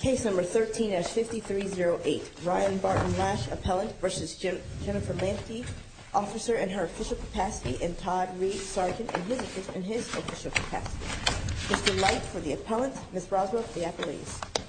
Case number 13-5308 Ryan Barton Lash Appellant v. Jennifer Lemke Officer in her official capacity and Todd Reed Sergeant in his official capacity Mr. Light for the Appellant, Ms. Broswell for the Appellant Officer in her official capacity and Todd Reed Sergeant in his official capacity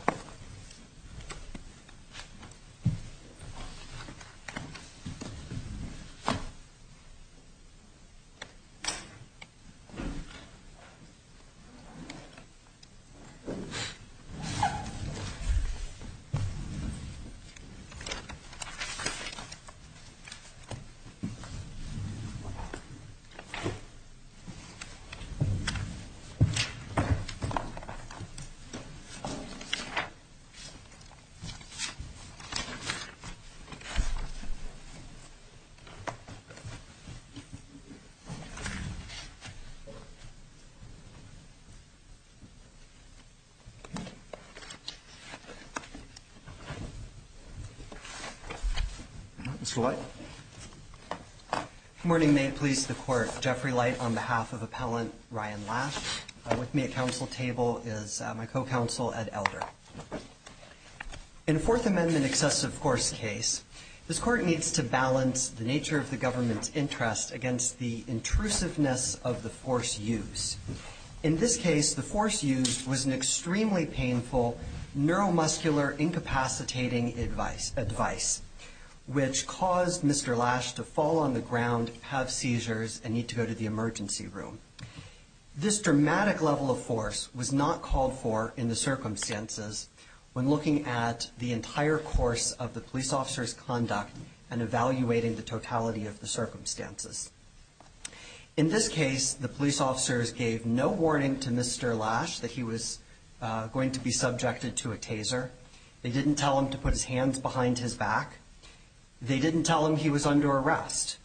Good morning may please the court Jeffrey light on behalf of appellant Ryan laughs with me at council table is my co-counsel at elder In fourth amendment excessive force case this court needs to balance the nature of the government's interest against the intrusiveness of the force use In this case the force used was an extremely painful neuromuscular incapacitating advice advice which caused Mr. Lash to fall on the ground have seizures and need to go to the emergency room This dramatic level of force was not called for in the circumstances when looking at the entire course of the police officers conduct and evaluating the totality of the circumstances In this case the police officers gave no warning to Mr. Lash that he was going to be subjected to a taser they didn't tell him to put his hands behind his back They didn't tell him he was under arrest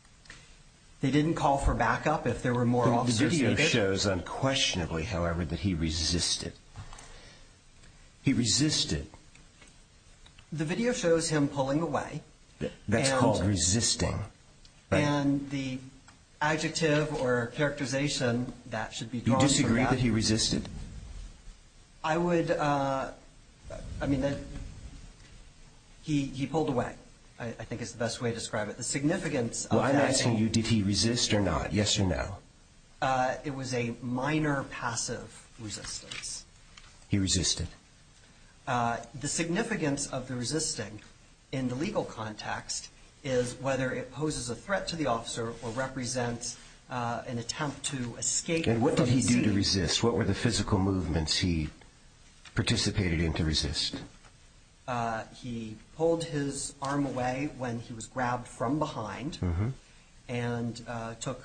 they didn't call for backup if there were more officers The video shows unquestionably however that he resisted he resisted The video shows him pulling away that's called resisting and the adjective or characterization that should be Do you disagree that he resisted? I would I mean that he pulled away I think it's the best way to describe it the significance I'm asking you did he resist or not yes or no It was a minor passive resistance He resisted The significance of the resisting in the legal context is whether it poses a threat to the officer or represents an attempt to escape What did he do to resist what were the physical movements he participated in to resist He pulled his arm away when he was grabbed from behind and took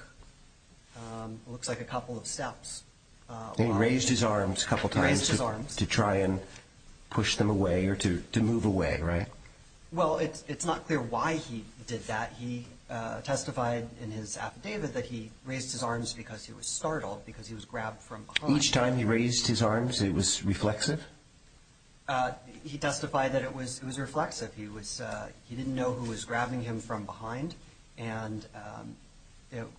looks like a couple of steps He raised his arms a couple times to try and push them away or to move away right Well it's not clear why he did that he testified in his affidavit that he raised his arms because he was startled because he was grabbed from behind Each time he raised his arms it was reflexive He testified that it was it was reflexive he was he didn't know who was grabbing him from behind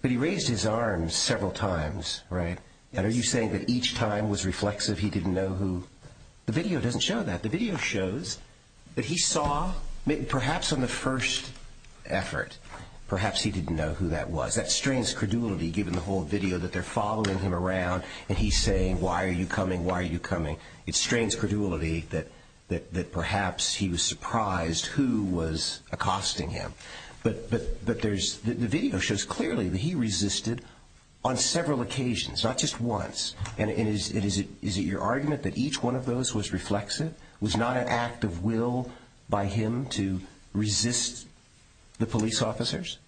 But he raised his arms several times right and are you saying that each time was reflexive he didn't know who The video doesn't show that the video shows that he saw perhaps on the first effort perhaps he didn't know who that was That strains credulity given the whole video that they're following him around and he's saying why are you coming why are you coming It strains credulity that that that perhaps he was surprised who was accosting him But but but there's the video shows clearly that he resisted on several occasions not just once And is it is it your argument that each one of those was reflexive was not an act of will by him to resist the police officers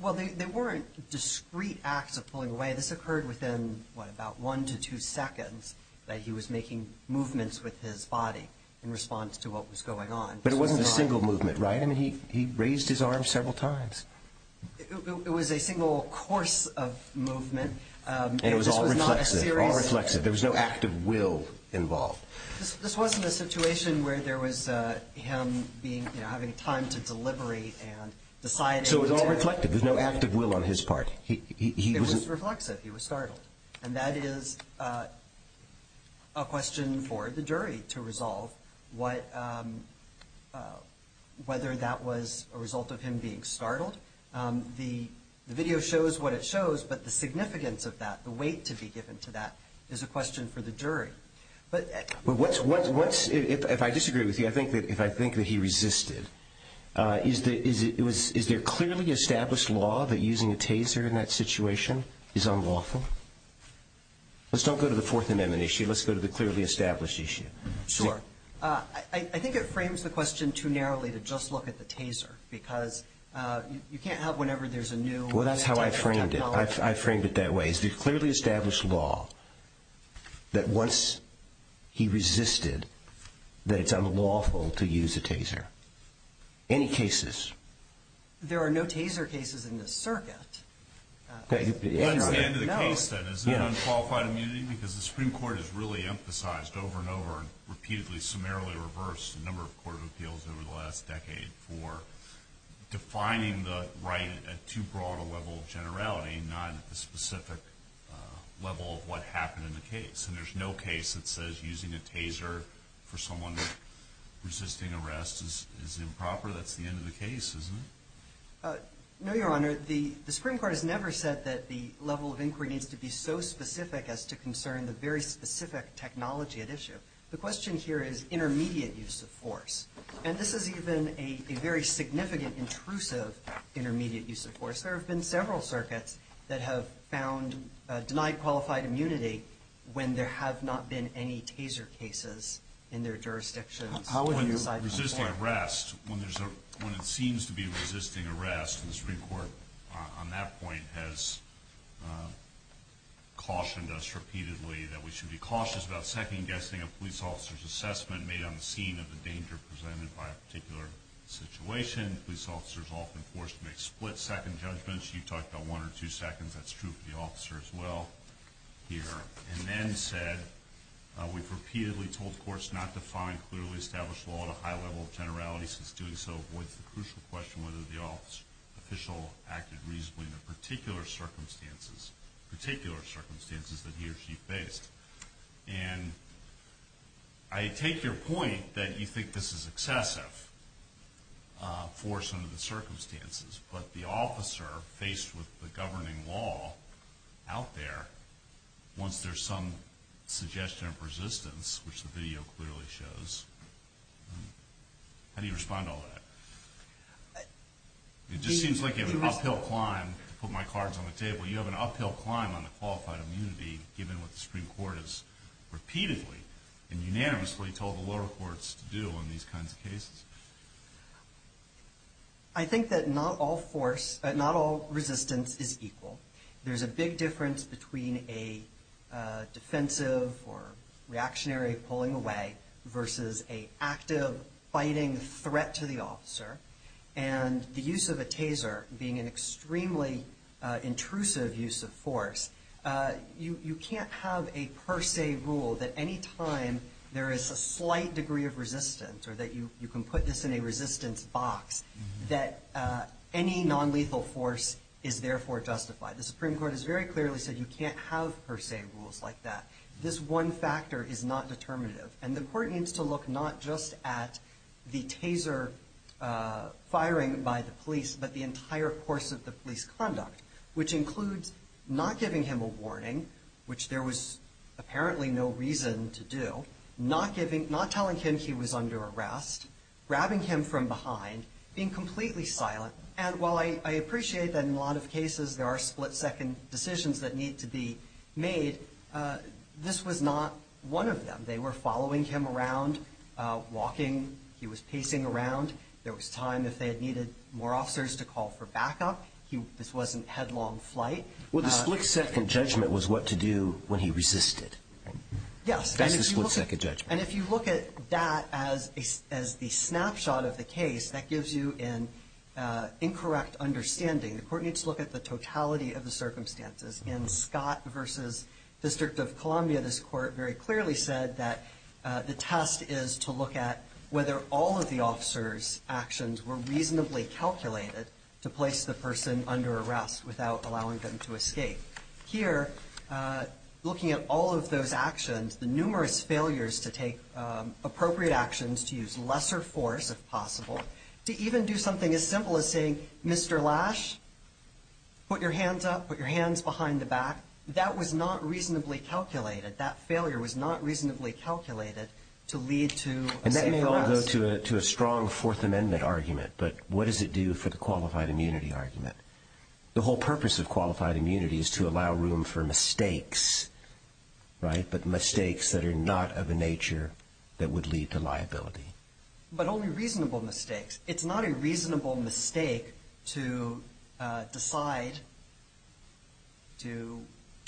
Well they weren't discreet acts of pulling away this occurred within what about one to two seconds that he was making movements with his body in response to what was going on But it wasn't a single movement right and he he raised his arms several times It was a single course of movement and it was all reflexive reflexive there was no act of will involved This wasn't a situation where there was him being having time to deliberate and decide so it was all reflective there's no act of will on his part He was reflexive he was startled and that is a question for the jury to resolve what Whether that was a result of him being startled the video shows what it shows but the significance of that the weight to be given to that is a question for the jury But what's what's what's if I disagree with you I think that if I think that he resisted is that it was is there clearly established law that using a taser in that situation is unlawful Let's don't go to the Fourth Amendment issue let's go to the clearly established issue Sure I think it frames the question too narrowly to just look at the taser because you can't have whenever there's a new well that's how I framed it I framed it that way Is there clearly established law that once he resisted that it's unlawful to use a taser any cases there are no taser cases in the circuit That's the end of the case then is it unqualified immunity because the Supreme Court has really emphasized over and over repeatedly summarily reversed a number of court of appeals over the last decade for defining the right at too broad a level of generality not at the specific level of what happened in the case And there's no case that says using a taser for someone resisting arrest is improper that's the end of the case isn't it No your honor the Supreme Court has never said that the level of inquiry needs to be so specific as to concern the very specific technology at issue the question here is intermediate use of force And this is even a very significant intrusive intermediate use of force there have been several circuits that have found denied qualified immunity when there have not been any taser cases in their jurisdictions When resisting arrest when it seems to be resisting arrest the Supreme Court on that point has cautioned us repeatedly that we should be cautious about second guessing a police officer's assessment made on the scene of the danger presented by a particular situation Again police officers are often forced to make split second judgments you talked about one or two seconds that's true for the officer as well here and then said we've repeatedly told courts not to find clearly established law at a high level of generality since doing so avoids the crucial question whether the official acted reasonably in the particular circumstances that he or she faced And I take your point that you think this is excessive for some of the circumstances but the officer faced with the governing law out there wants there's some suggestion of resistance which the video clearly shows how do you respond to all that It just seems like you have an uphill climb to put my cards on the table you have an uphill climb on the qualified immunity given what the Supreme Court has repeatedly and unanimously told the lower courts to do on these kinds of cases I think that not all force not all resistance is equal there's a big difference between a defensive or reactionary pulling away versus a active fighting threat to the officer and the use of a taser being an extremely intrusive use of force You can't have a per se rule that any time there is a slight degree of resistance or that you you can put this in a resistance box that any nonlethal force is therefore justified the Supreme Court has very clearly said you can't have per se rules like that this one factor is not determinative And the court needs to look not just at the taser firing by the police but the entire course of the police conduct which includes not giving him a warning which there was apparently no reason to do not giving not telling him he was under arrest grabbing him from behind being completely silent And while I appreciate that in a lot of cases there are split second decisions that need to be made this was not one of them they were following him around walking he was pacing around there was time if they had needed more officers to call for backup he this wasn't headlong flight Well the split second judgment was what to do when he resisted Yes That's the split second judgment And if you look at that as the snapshot of the case that gives you an incorrect understanding the court needs to look at the totality of the circumstances in Scott versus District of Columbia this court very clearly said that the test is to look at whether all of the officers actions were reasonably calculated to place the person under arrest without allowing them to escape Here looking at all of those actions the numerous failures to take appropriate actions to use lesser force if possible to even do something as simple as saying Mr. Lash put your hands up put your hands behind the back that was not reasonably calculated that failure was not reasonably calculated to lead to And that may well go to a strong fourth amendment argument but what does it do for the qualified immunity argument the whole purpose of qualified immunity is to allow room for mistakes right but mistakes that are not of a nature that would lead to liability But only reasonable mistakes it's not a reasonable mistake to decide to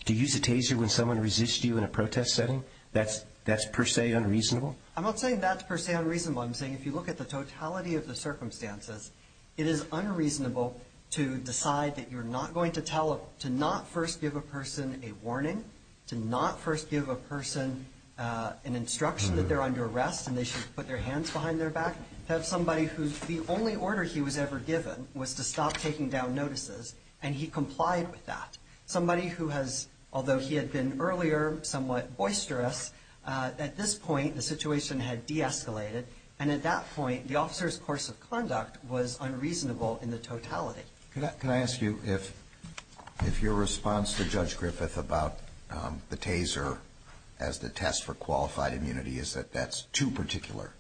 To use a taser when someone resist you in a protest setting that's per se unreasonable I'm not saying that's per se unreasonable I'm saying if you look at the totality of the circumstances it is unreasonable to decide that you're not going to tell to not first give a person a warning to not first give a person an instruction that they're under arrest and they should put their hands behind their back to have somebody who's the only order he was ever given was to stop taking down notices and he complied with that somebody who has although he had been earlier somewhat boisterous At this point the situation had de-escalated and at that point the officer's course of conduct was unreasonable in the totality Can I ask you if your response to Judge Griffith about the taser as the test for qualified immunity is that that's too particular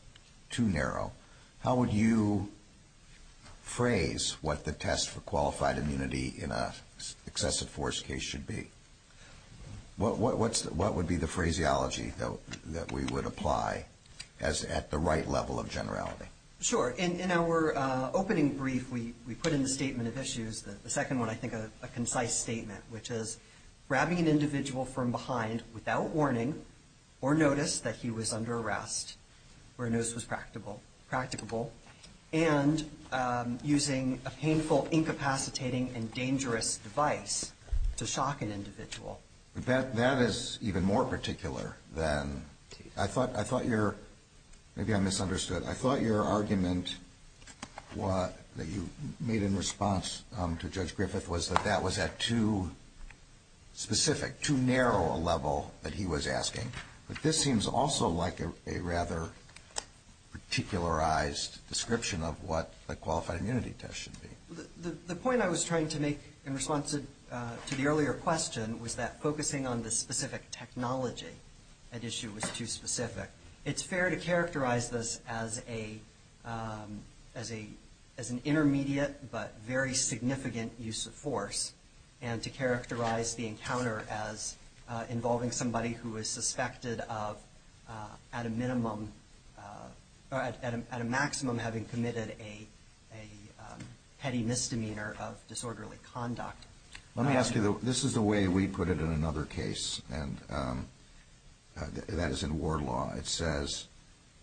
too narrow how would you phrase what the test for qualified immunity in an excessive force case should be What would be the phraseology that we would apply as at the right level of generality Sure in our opening brief we we put in the statement of issues that the second one I think a concise statement which is grabbing an individual from behind without warning or notice that he was under arrest where notice was practical practicable and using a painful incapacitating and dangerous device to shock an individual That is even more particular than I thought I thought your maybe I misunderstood I thought your argument what that you made in response to Judge Griffith was that that was at too specific too narrow a level that he was asking but this seems also like a rather particularized description of what a qualified immunity test should be The point I was trying to make in response to the earlier question was that focusing on the specific technology at issue was too specific it's fair to characterize this as a as a as an intermediate but very significant use of force and to characterize the encounter as involving somebody who is suspected of at a minimum at a maximum having committed a petty misdemeanor Of disorderly conduct Let me ask you this is the way we put it in another case and that is in war law it says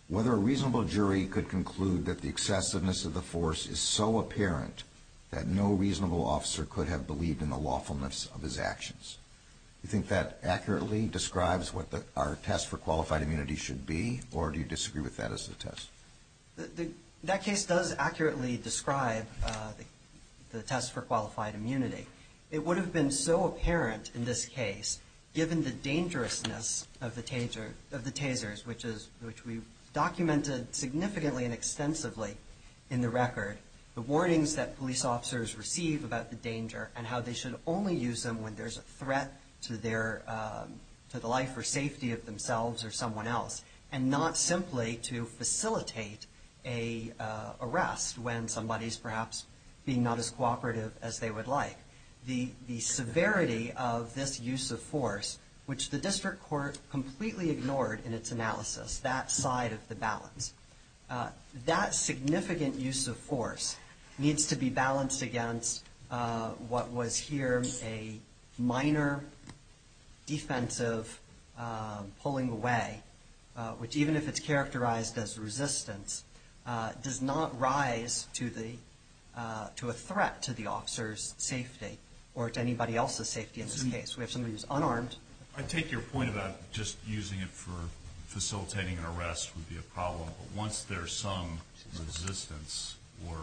whether a reasonable jury could conclude that the excessiveness of the force is so apparent that no reasonable officer could have believed in the lawfulness of his actions You think that accurately describes what the our test for qualified immunity should be or do you disagree with that as the test That case does accurately describe the test for qualified immunity Arrest when somebody is perhaps being not as cooperative as they would like the the severity of this use of force which the district court completely ignored in its analysis that side of the balance That significant use of force needs to be balanced against what was here a minor defensive pulling away which even if it's characterized as resistance does not rise to the to a threat to the officers safety or to anybody else's safety in this case we have somebody who's unarmed I take your point about just using it for facilitating an arrest would be a problem but once there's some resistance or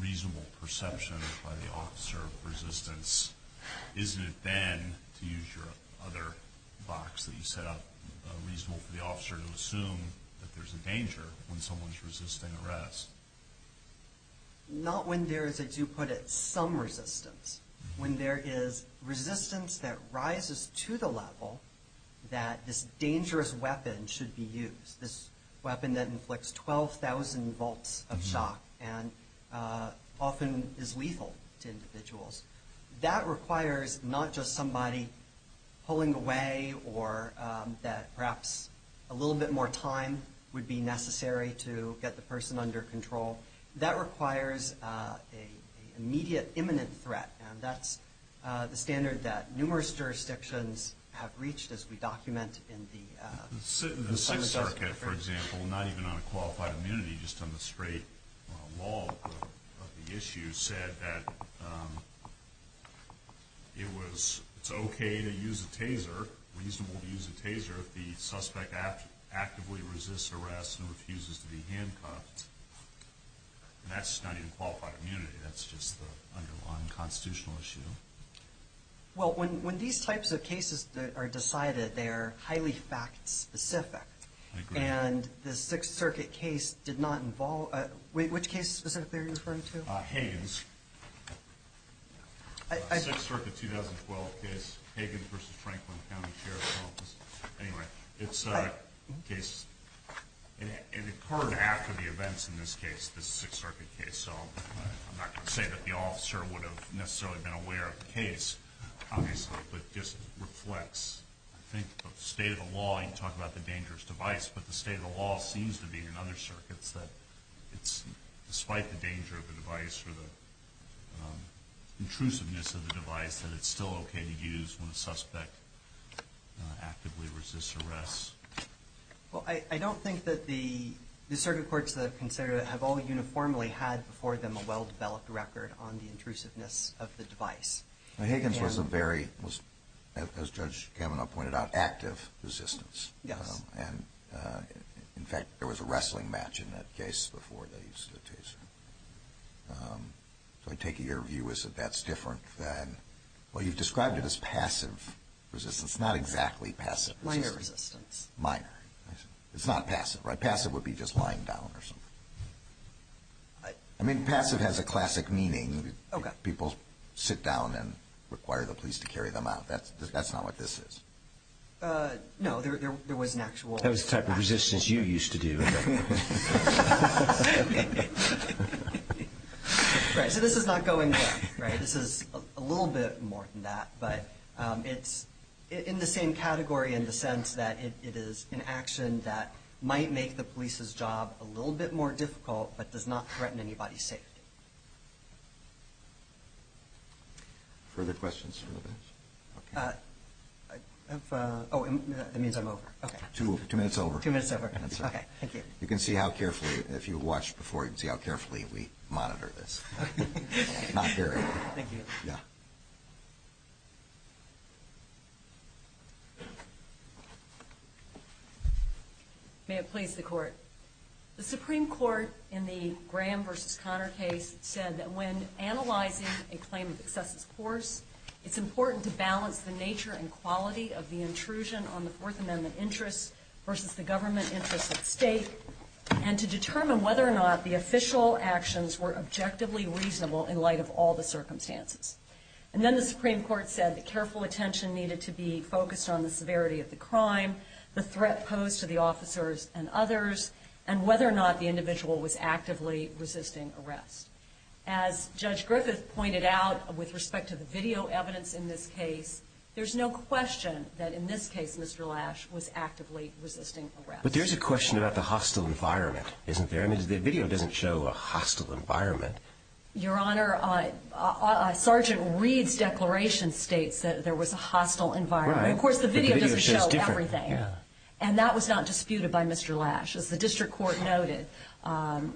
reasonable perception by the officer of resistance isn't it then to use your other box that you set up reasonable for the officer to assume that there's a danger when someone's resisting arrest Not when there is as you put it some resistance when there is resistance that rises to the level that this dangerous weapon should be used this weapon that inflicts 12,000 volts of shock and often is lethal to individuals that requires not just somebody pulling away or that perhaps a little bit more time would be necessary to get the person under control that requires a immediate imminent threat and that's the standard that numerous jurisdictions have reached as we document in the In the 6th circuit for example not even on a qualified immunity just on the straight law of the issue said that it was okay to use a taser reasonable to use a taser if the suspect actively resists arrest and refuses to be handcuffed and that's not even qualified immunity that's just the underlying constitutional issue Well when these types of cases are decided they are highly fact specific and the 6th circuit case did not involve which case specifically are you referring to? Hagan's 6th circuit 2012 case Hagan v. Franklin County Sheriff's Office anyway it's a case it occurred after the events in this case this 6th circuit case so I'm not going to say that the officer would have necessarily been aware of the case obviously but just reflects I think the state of the law you talk about the dangerous device but the state of the law seems to be in other circuits that it's despite the danger of the device or the intrusiveness of the device that it's still okay to use when a suspect actively resists arrest Well I don't think that the circuit courts that I've considered have all uniformly had before them a well developed record on the intrusiveness of the device Hagan's was a very as Judge Kavanaugh pointed out active resistance and in fact there was a wrestling match in that case before they used the taser so I take it your view is that that's different than well you've described it as passive resistance not exactly passive resistance Minor resistance Minor it's not passive right passive would be just lying down or something I mean passive has a classic meaning people sit down and require the police to carry them out that's that's not what this is No there was an actual That was the type of resistance you used to do Right so this is not going well right this is a little bit more than that but it's in the same category in the sense that it is an action that might make the police's job a little bit more difficult but does not threaten anybody's safety Further questions Oh it means I'm over Two minutes over Two minutes over Okay thank you You can see how carefully if you watch before you can see how carefully we monitor this Not very Thank you Yeah May it please the court The Supreme Court in the Graham versus Connor case said that when analyzing a claim of excessive force It's important to balance the nature and quality of the intrusion on the Fourth Amendment interest versus the government interest of the state And to determine whether or not the official actions were objectively reasonable in light of all the circumstances And then the Supreme Court said that careful attention needed to be focused on the severity of the crime the threat posed to the officers and others and whether or not the individual was actively resisting arrest As Judge Griffith pointed out with respect to the video evidence in this case There's no question that in this case Mr. Lash was actively resisting arrest But there's a question about the hostile environment isn't there I mean the video doesn't show a hostile environment Your Honor Sergeant Reed's declaration states that there was a hostile environment of course the video doesn't show everything And that was not disputed by Mr. Lash as the district court noted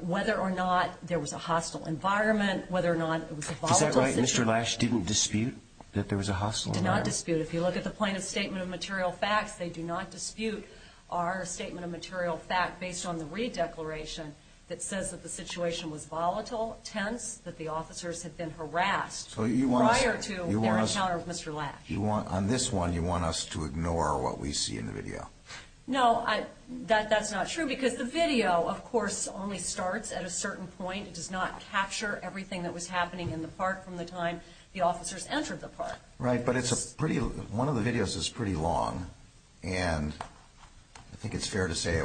whether or not there was a hostile environment whether or not it was a volatile situation Is that right Mr. Lash didn't dispute that there was a hostile environment Did not dispute if you look at the plaintiff's statement of material facts they do not dispute our statement of material fact based on the Reed declaration That says that the situation was volatile tense that the officers had been harassed prior to their encounter with Mr. Lash On this one you want us to ignore what we see in the video No that's not true because the video of course only starts at a certain point it does not capture everything that was happening in the park from the time the officers entered the park Right but it's a pretty one of the videos is pretty long and I think it's fair to say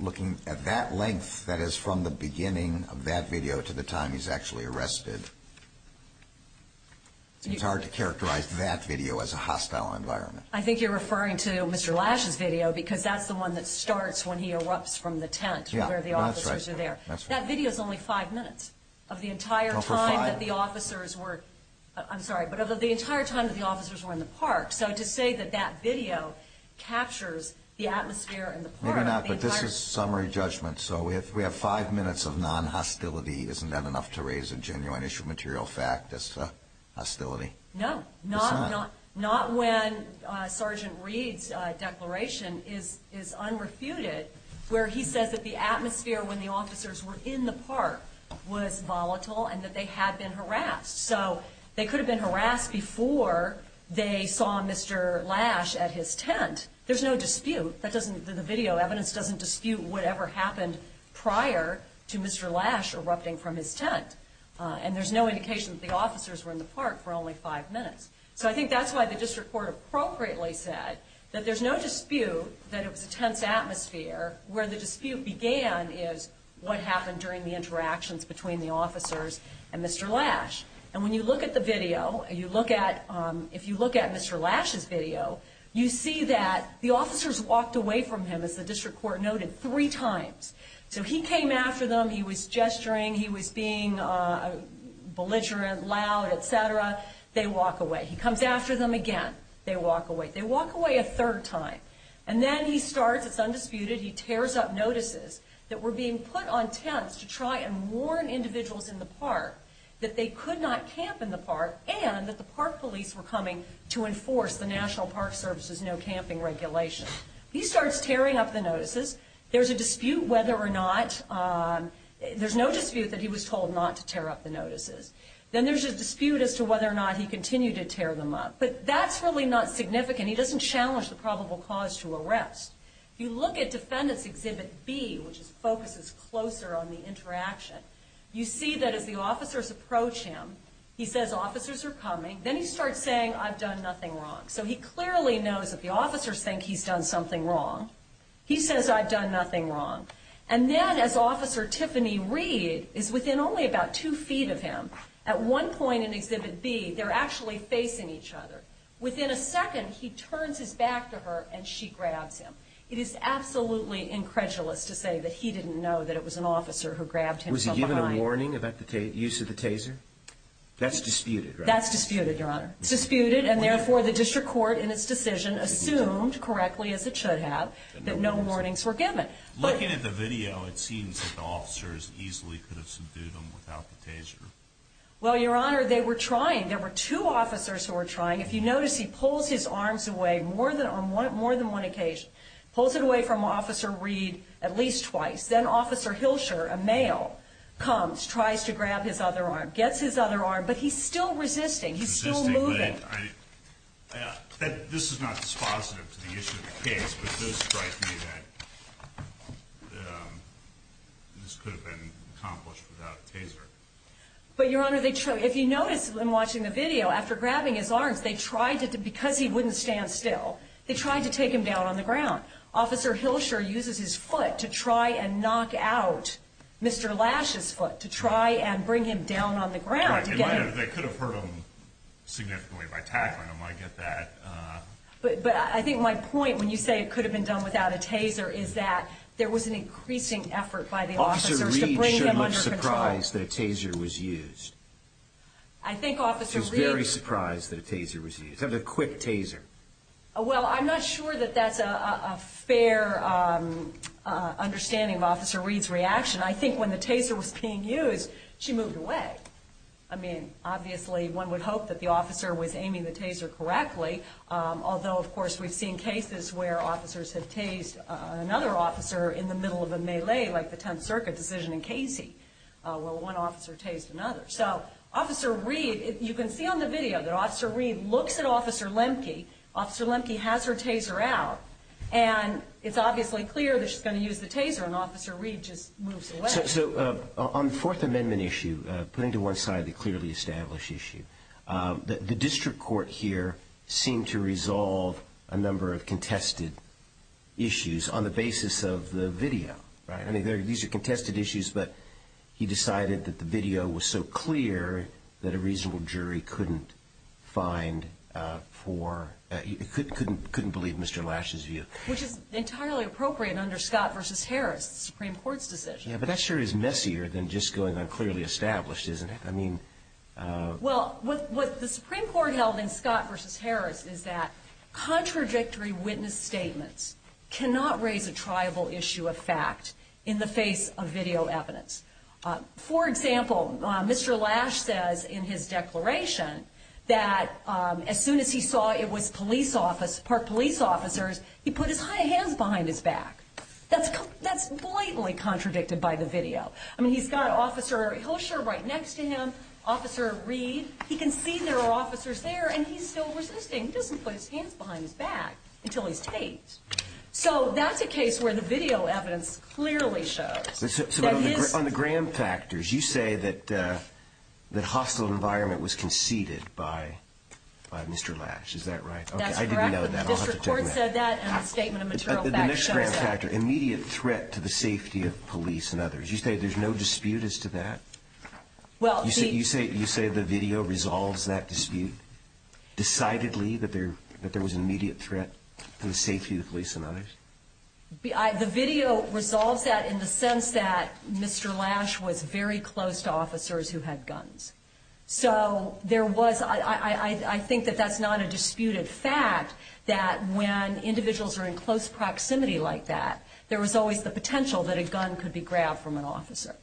looking at that length that is from the beginning of that video to the time he's actually arrested It's hard to characterize that video as a hostile environment I think you're referring to Mr. Lash's video because that's the one that starts when he erupts from the tent where the officers are there That video is only five minutes of the entire time that the officers were I'm sorry but of the entire time that the officers were in the park So to say that that video captures the atmosphere in the park Maybe not but this is summary judgment so if we have five minutes of non-hostility isn't that enough to raise a genuine issue of material fact as to hostility No not when Sergeant Reed's declaration is unrefuted where he says that the atmosphere when the officers were in the park was volatile and that they had been harassed So they could have been harassed before they saw Mr. Lash at his tent There's no dispute that doesn't the video evidence doesn't dispute whatever happened prior to Mr. Lash erupting from his tent And there's no indication that the officers were in the park for only five minutes So I think that's why the district court appropriately said that there's no dispute that it was a tense atmosphere where the dispute began is what happened during the interactions between the officers and Mr. Lash And when you look at the video you look at if you look at Mr. Lash's video you see that the officers walked away from him as the district court noted three times So he came after them, he was gesturing, he was being belligerent, loud, etc. They walk away. He comes after them again, they walk away. They walk away a third time And then he starts, it's undisputed, he tears up notices that were being put on tents to try and warn individuals in the park that they could not camp in the park and that the park police were coming to enforce the National Park Service's no camping regulation He starts tearing up the notices. There's a dispute whether or not, there's no dispute that he was told not to tear up the notices Then there's a dispute as to whether or not he continued to tear them up. But that's really not significant. He doesn't challenge the probable cause to arrest If you look at Defendant's Exhibit B, which focuses closer on the interaction, you see that as the officers approach him, he says officers are coming Then he starts saying I've done nothing wrong. So he clearly knows that the officers think he's done something wrong. He says I've done nothing wrong. And then as Officer Tiffany Reed is within only about two feet of him At one point in Exhibit B, they're actually facing each other. Within a second, he turns his back to her and she grabs him. It is absolutely incredulous to say that he didn't know that it was an officer who grabbed him from behind Was there a warning about the use of the taser? That's disputed, right? That's disputed, Your Honor. It's disputed and therefore the District Court in its decision assumed correctly as it should have that no warnings were given Looking at the video, it seems that the officers easily could have subdued him without the taser Well, Your Honor, they were trying. There were two officers who were trying. If you notice, he pulls his arms away on more than one occasion. He pulls it away from Officer Reed at least twice Then Officer Hilscher, a male, comes, tries to grab his other arm, gets his other arm, but he's still resisting. He's still moving This is not dispositive to the issue of the case, but this strikes me that this could have been accomplished without the taser But, Your Honor, if you notice in watching the video, after grabbing his arms, because he wouldn't stand still, they tried to take him down on the ground Officer Hilscher uses his foot to try and knock out Mr. Lash's foot to try and bring him down on the ground They could have hurt him significantly by tackling him. I get that But I think my point when you say it could have been done without a taser is that there was an increasing effort by the officers to bring him under control She's surprised that a taser was used. She's very surprised that a taser was used. It was a quick taser Well, I'm not sure that that's a fair understanding of Officer Reed's reaction. I think when the taser was being used, she moved away I mean, obviously, one would hope that the officer was aiming the taser correctly, although, of course, we've seen cases where officers have tased another officer in the middle of a melee like the Tenth Circuit decision in Casey where one officer tased another So, Officer Reed, you can see on the video that Officer Reed looks at Officer Lemke Officer Lemke has her taser out, and it's obviously clear that she's going to use the taser, and Officer Reed just moves away So, on the Fourth Amendment issue, putting to one side the clearly established issue, the district court here seemed to resolve a number of contested issues on the basis of the video I mean, these are contested issues, but he decided that the video was so clear that a reasonable jury couldn't believe Mr. Lash's view Which is entirely appropriate under Scott v. Harris, the Supreme Court's decision Yeah, but that sure is messier than just going on clearly established, isn't it? Well, what the Supreme Court held in Scott v. Harris is that contradictory witness statements cannot raise a triable issue of fact in the face of video evidence For example, Mr. Lash says in his declaration that as soon as he saw it was police officers, he put his hands behind his back That's blatantly contradicted by the video I mean, he's got Officer Hilscher right next to him, Officer Reed He can see there are officers there, and he's still resisting He doesn't put his hands behind his back until he's taped So, that's a case where the video evidence clearly shows So, on the Graham factors, you say that hostile environment was conceded by Mr. Lash, is that right? That's correct, the district court said that in the statement of material facts The next Graham factor, immediate threat to the safety of police and others You say there's no dispute as to that? You say the video resolves that dispute decidedly, that there was an immediate threat to the safety of police and others? The video resolves that in the sense that Mr. Lash was very close to officers who had guns So, I think that's not a disputed fact that when individuals are in close proximity like that There was always the potential that a gun could be grabbed from an officer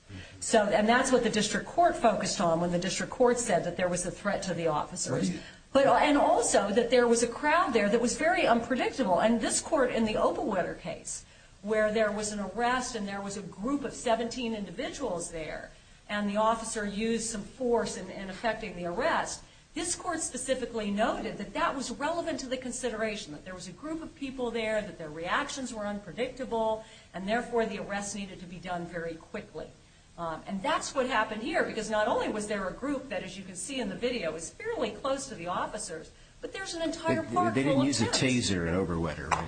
And that's what the district court focused on when the district court said that there was a threat to the officers And also, that there was a crowd there that was very unpredictable And this court in the Opelwetter case, where there was an arrest and there was a group of 17 individuals there And the officer used some force in effecting the arrest This court specifically noted that that was relevant to the consideration That there was a group of people there, that their reactions were unpredictable And therefore, the arrest needed to be done very quickly And that's what happened here, because not only was there a group that, as you can see in the video Was fairly close to the officers, but there's an entire park full of people They didn't use a taser in Opelwetter, right?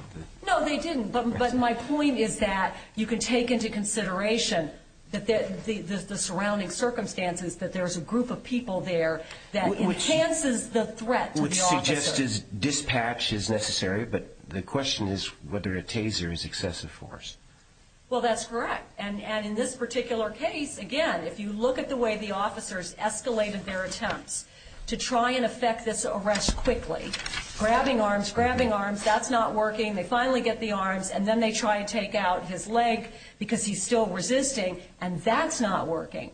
No, they didn't, but my point is that you can take into consideration The surrounding circumstances, that there's a group of people there that enhances the threat to the officers Which suggests dispatch is necessary, but the question is whether a taser is excessive force Well, that's correct And in this particular case, again, if you look at the way the officers escalated their attempts To try and effect this arrest quickly Grabbing arms, grabbing arms, that's not working They finally get the arms, and then they try to take out his leg Because he's still resisting, and that's not working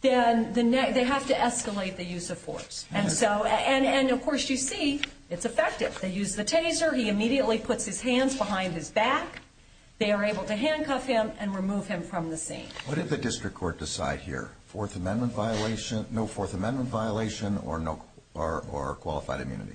Then they have to escalate the use of force And so, and of course you see, it's effective They use the taser, he immediately puts his hands behind his back They are able to handcuff him and remove him from the scene What did the district court decide here? Fourth amendment violation, no fourth amendment violation, or qualified immunity?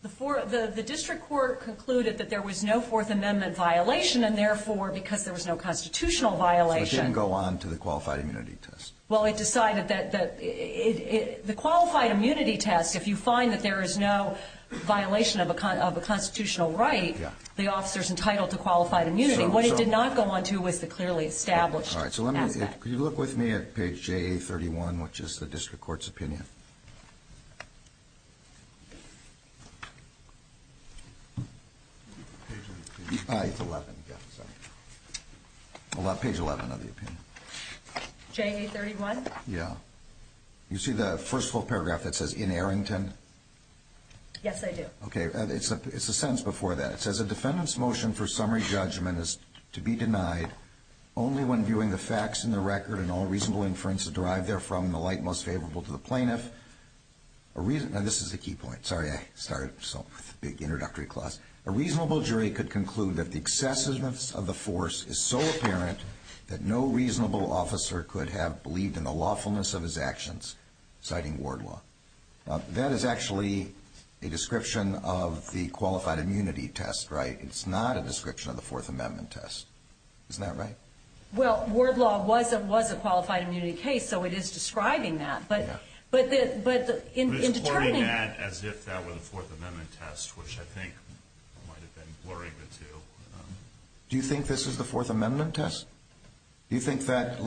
The district court concluded that there was no fourth amendment violation And therefore, because there was no constitutional violation So it didn't go on to the qualified immunity test? Well, it decided that, the qualified immunity test If you find that there is no violation of a constitutional right The officer is entitled to qualified immunity What it did not go on to was the clearly established Could you look with me at page JA31, which is the district court's opinion? Page 11, yeah, sorry Page 11 of the opinion JA31? Yeah You see the first full paragraph that says, in Arrington? Yes I do Okay, it's a sentence before that It says, a defendant's motion for summary judgment is to be denied Only when viewing the facts in the record and all reasonable inferences derived therefrom In the light most favorable to the plaintiff Now this is the key point, sorry I started with a big introductory clause A reasonable jury could conclude that the excessiveness of the force is so apparent That no reasonable officer could have believed in the lawfulness of his actions Citing ward law Now that is actually a description of the qualified immunity test, right? It's not a description of the fourth amendment test Isn't that right? Well, ward law was a qualified immunity case, so it is describing that But in determining But it's quoting that as if that were the fourth amendment test Which I think might have been blurring the two Do you think this is the fourth amendment test? Do you think that,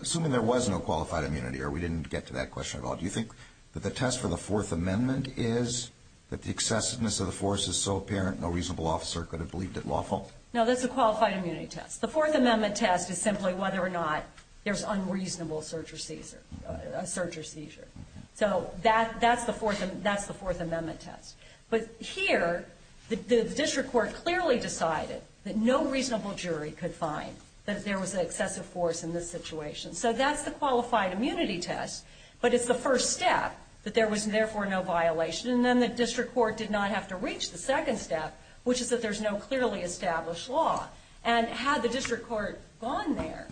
assuming there was no qualified immunity Or we didn't get to that question at all Do you think that the test for the fourth amendment is That the excessiveness of the force is so apparent No reasonable officer could have believed it lawful? No, that's a qualified immunity test The fourth amendment test is simply whether or not There's unreasonable search or seizure So that's the fourth amendment test But here, the district court clearly decided That no reasonable jury could find That there was an excessive force in this situation So that's the qualified immunity test But it's the first step That there was therefore no violation And then the district court did not have to reach the second step Which is that there's no clearly established law And had the district court gone there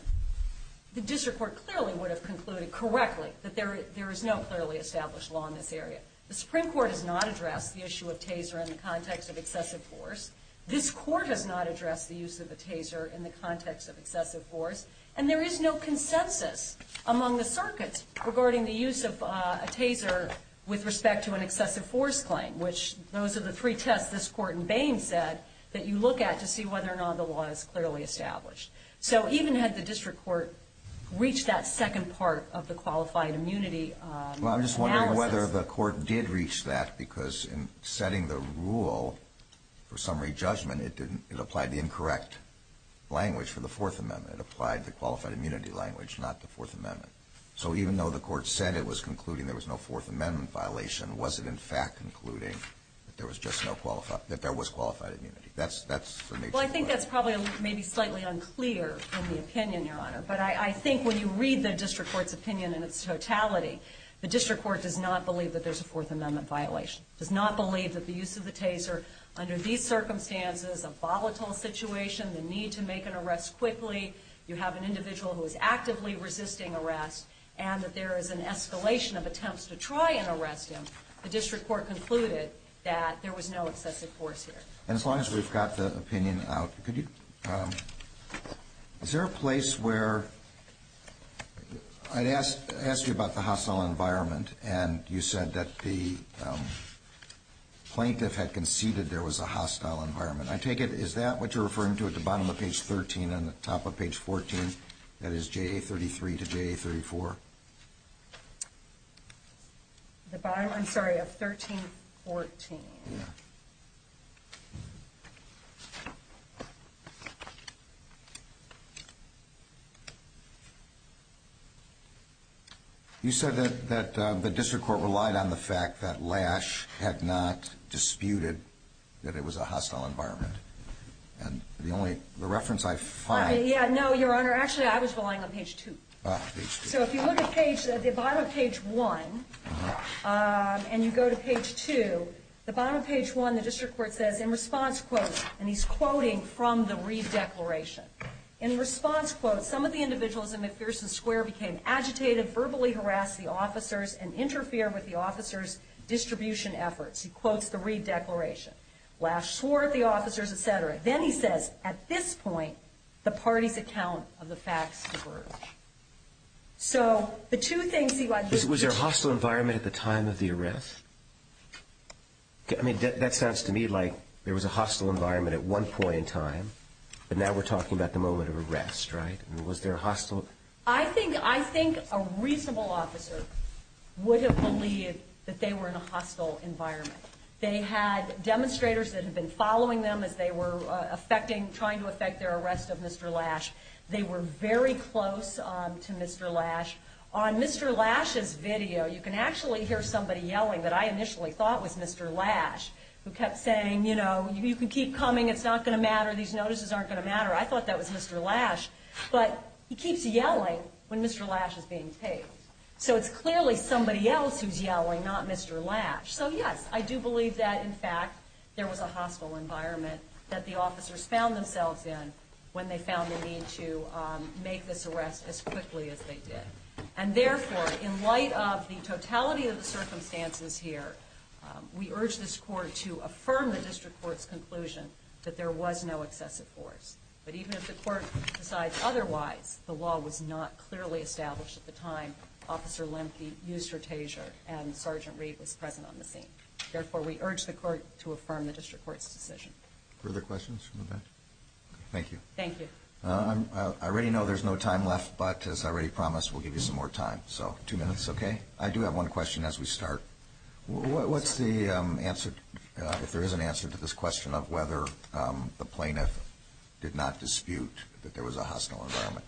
The district court clearly would have concluded correctly That there is no clearly established law in this area The Supreme Court has not addressed the issue of taser In the context of excessive force This court has not addressed the use of a taser In the context of excessive force And there is no consensus among the circuits Regarding the use of a taser With respect to an excessive force claim Which, those are the three tests this court in Bain said That you look at to see whether or not the law is clearly established So even had the district court reached that second part Of the qualified immunity analysis Well I'm just wondering whether the court did reach that Because in setting the rule for summary judgment It applied the incorrect language for the fourth amendment It applied the qualified immunity language Not the fourth amendment So even though the court said it was concluding There was no fourth amendment violation Was it in fact concluding that there was qualified immunity That's the nature of the question Well I think that's probably maybe slightly unclear In the opinion your honor But I think when you read the district court's opinion In its totality The district court does not believe that there's a fourth amendment violation Does not believe that the use of the taser Under these circumstances A volatile situation The need to make an arrest quickly You have an individual who is actively resisting arrest And that there is an escalation of attempts to try and arrest him The district court concluded That there was no excessive force here And as long as we've got the opinion out Could you Is there a place where I'd ask you about the hostile environment And you said that the Plaintiff had conceded there was a hostile environment I take it is that what you're referring to at the bottom of page 13 And the top of page 14 That is JA33 to JA34 I'm sorry of 1314 Yeah You said that the district court relied on the fact that Lash Had not disputed That it was a hostile environment And the only reference I find Yeah no your honor Actually I was relying on page 2 So if you look at page At the bottom of page 1 And you go to page 2 The bottom of page 1 The district court says in response quotes And he's quoting from the Reid Declaration In response quotes Some of the individuals in McPherson Square Became agitated, verbally harassed the officers And interfered with the officers Distribution efforts He quotes the Reid Declaration Lash swore at the officers etc Then he says at this point The parties account of the facts So the two things Was there a hostile environment At the time of the arrest That sounds to me like There was a hostile environment At one point in time But now we're talking about the moment of arrest Was there a hostile I think a reasonable officer Would have believed That they were in a hostile environment They had demonstrators that had been following them As they were Trying to affect their arrest of Mr. Lash They were very close To Mr. Lash On Mr. Lash's video You can actually hear somebody yelling That I initially thought was Mr. Lash Who kept saying, you know You can keep coming, it's not going to matter These notices aren't going to matter I thought that was Mr. Lash But he keeps yelling when Mr. Lash is being taped So it's clearly somebody else who's yelling Not Mr. Lash So yes, I do believe that in fact There was a hostile environment That the officers found themselves in When they found the need to Make this arrest as quickly as they did And therefore, in light of The totality of the circumstances here We urge this court To affirm the district court's conclusion That there was no excessive force But even if the court Decides otherwise, the law was not Clearly established at the time Officer Lemke used retasure And Sergeant Reed was present on the scene Therefore we urge the court to affirm The district court's decision Further questions from the bench? Thank you I already know there's no time left But as I already promised, we'll give you some more time So two minutes, okay? I do have one question as we start What's the answer If there is an answer to this question Of whether the plaintiff Did not dispute that there was a hostile environment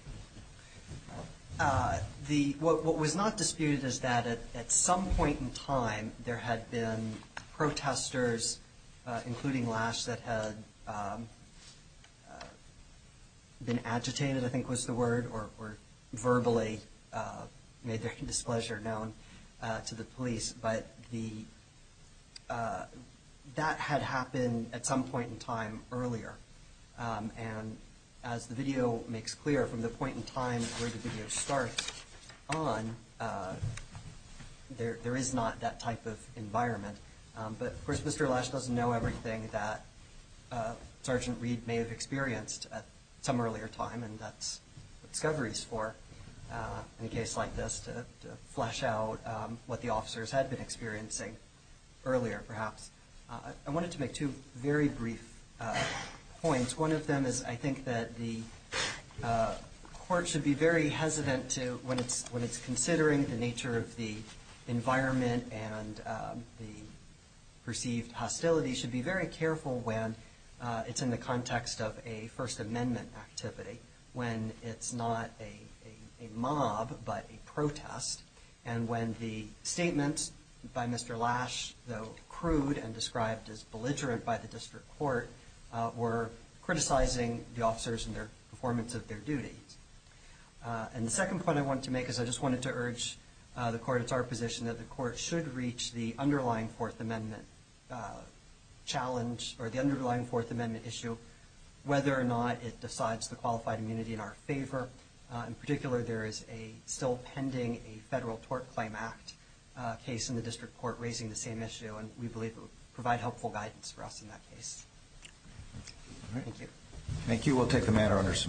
What was not disputed Is that at some point in time There had been protesters Including Lash That had Been agitated I think was the word Or verbally Made their displeasure known To the police But the That had happened at some point in time Earlier And as the video makes clear From the point in time where the video starts On There is not that type of Lash doesn't know everything that Sergeant Reed may have experienced At some earlier time And that's what discovery is for In a case like this To flesh out what the officers Had been experiencing earlier Perhaps I wanted to make two very brief Points, one of them is I think that the Court should be very hesitant to When it's considering the nature of the Environment and The perceived Hostility should be very careful when It's in the context of a First amendment activity When it's not a Mob but a protest And when the statement By Mr. Lash Though crude and described as belligerent By the district court Were criticizing the officers And their performance of their duty And the second point I wanted to make Is I just wanted to urge the court It's our position that the court should reach The underlying fourth amendment Challenge or the underlying Fourth amendment issue Whether or not it decides the qualified Immunity in our favor In particular there is a still pending A federal tort claim act Case in the district court raising the same issue And we believe it would provide helpful guidance For us in that case Thank you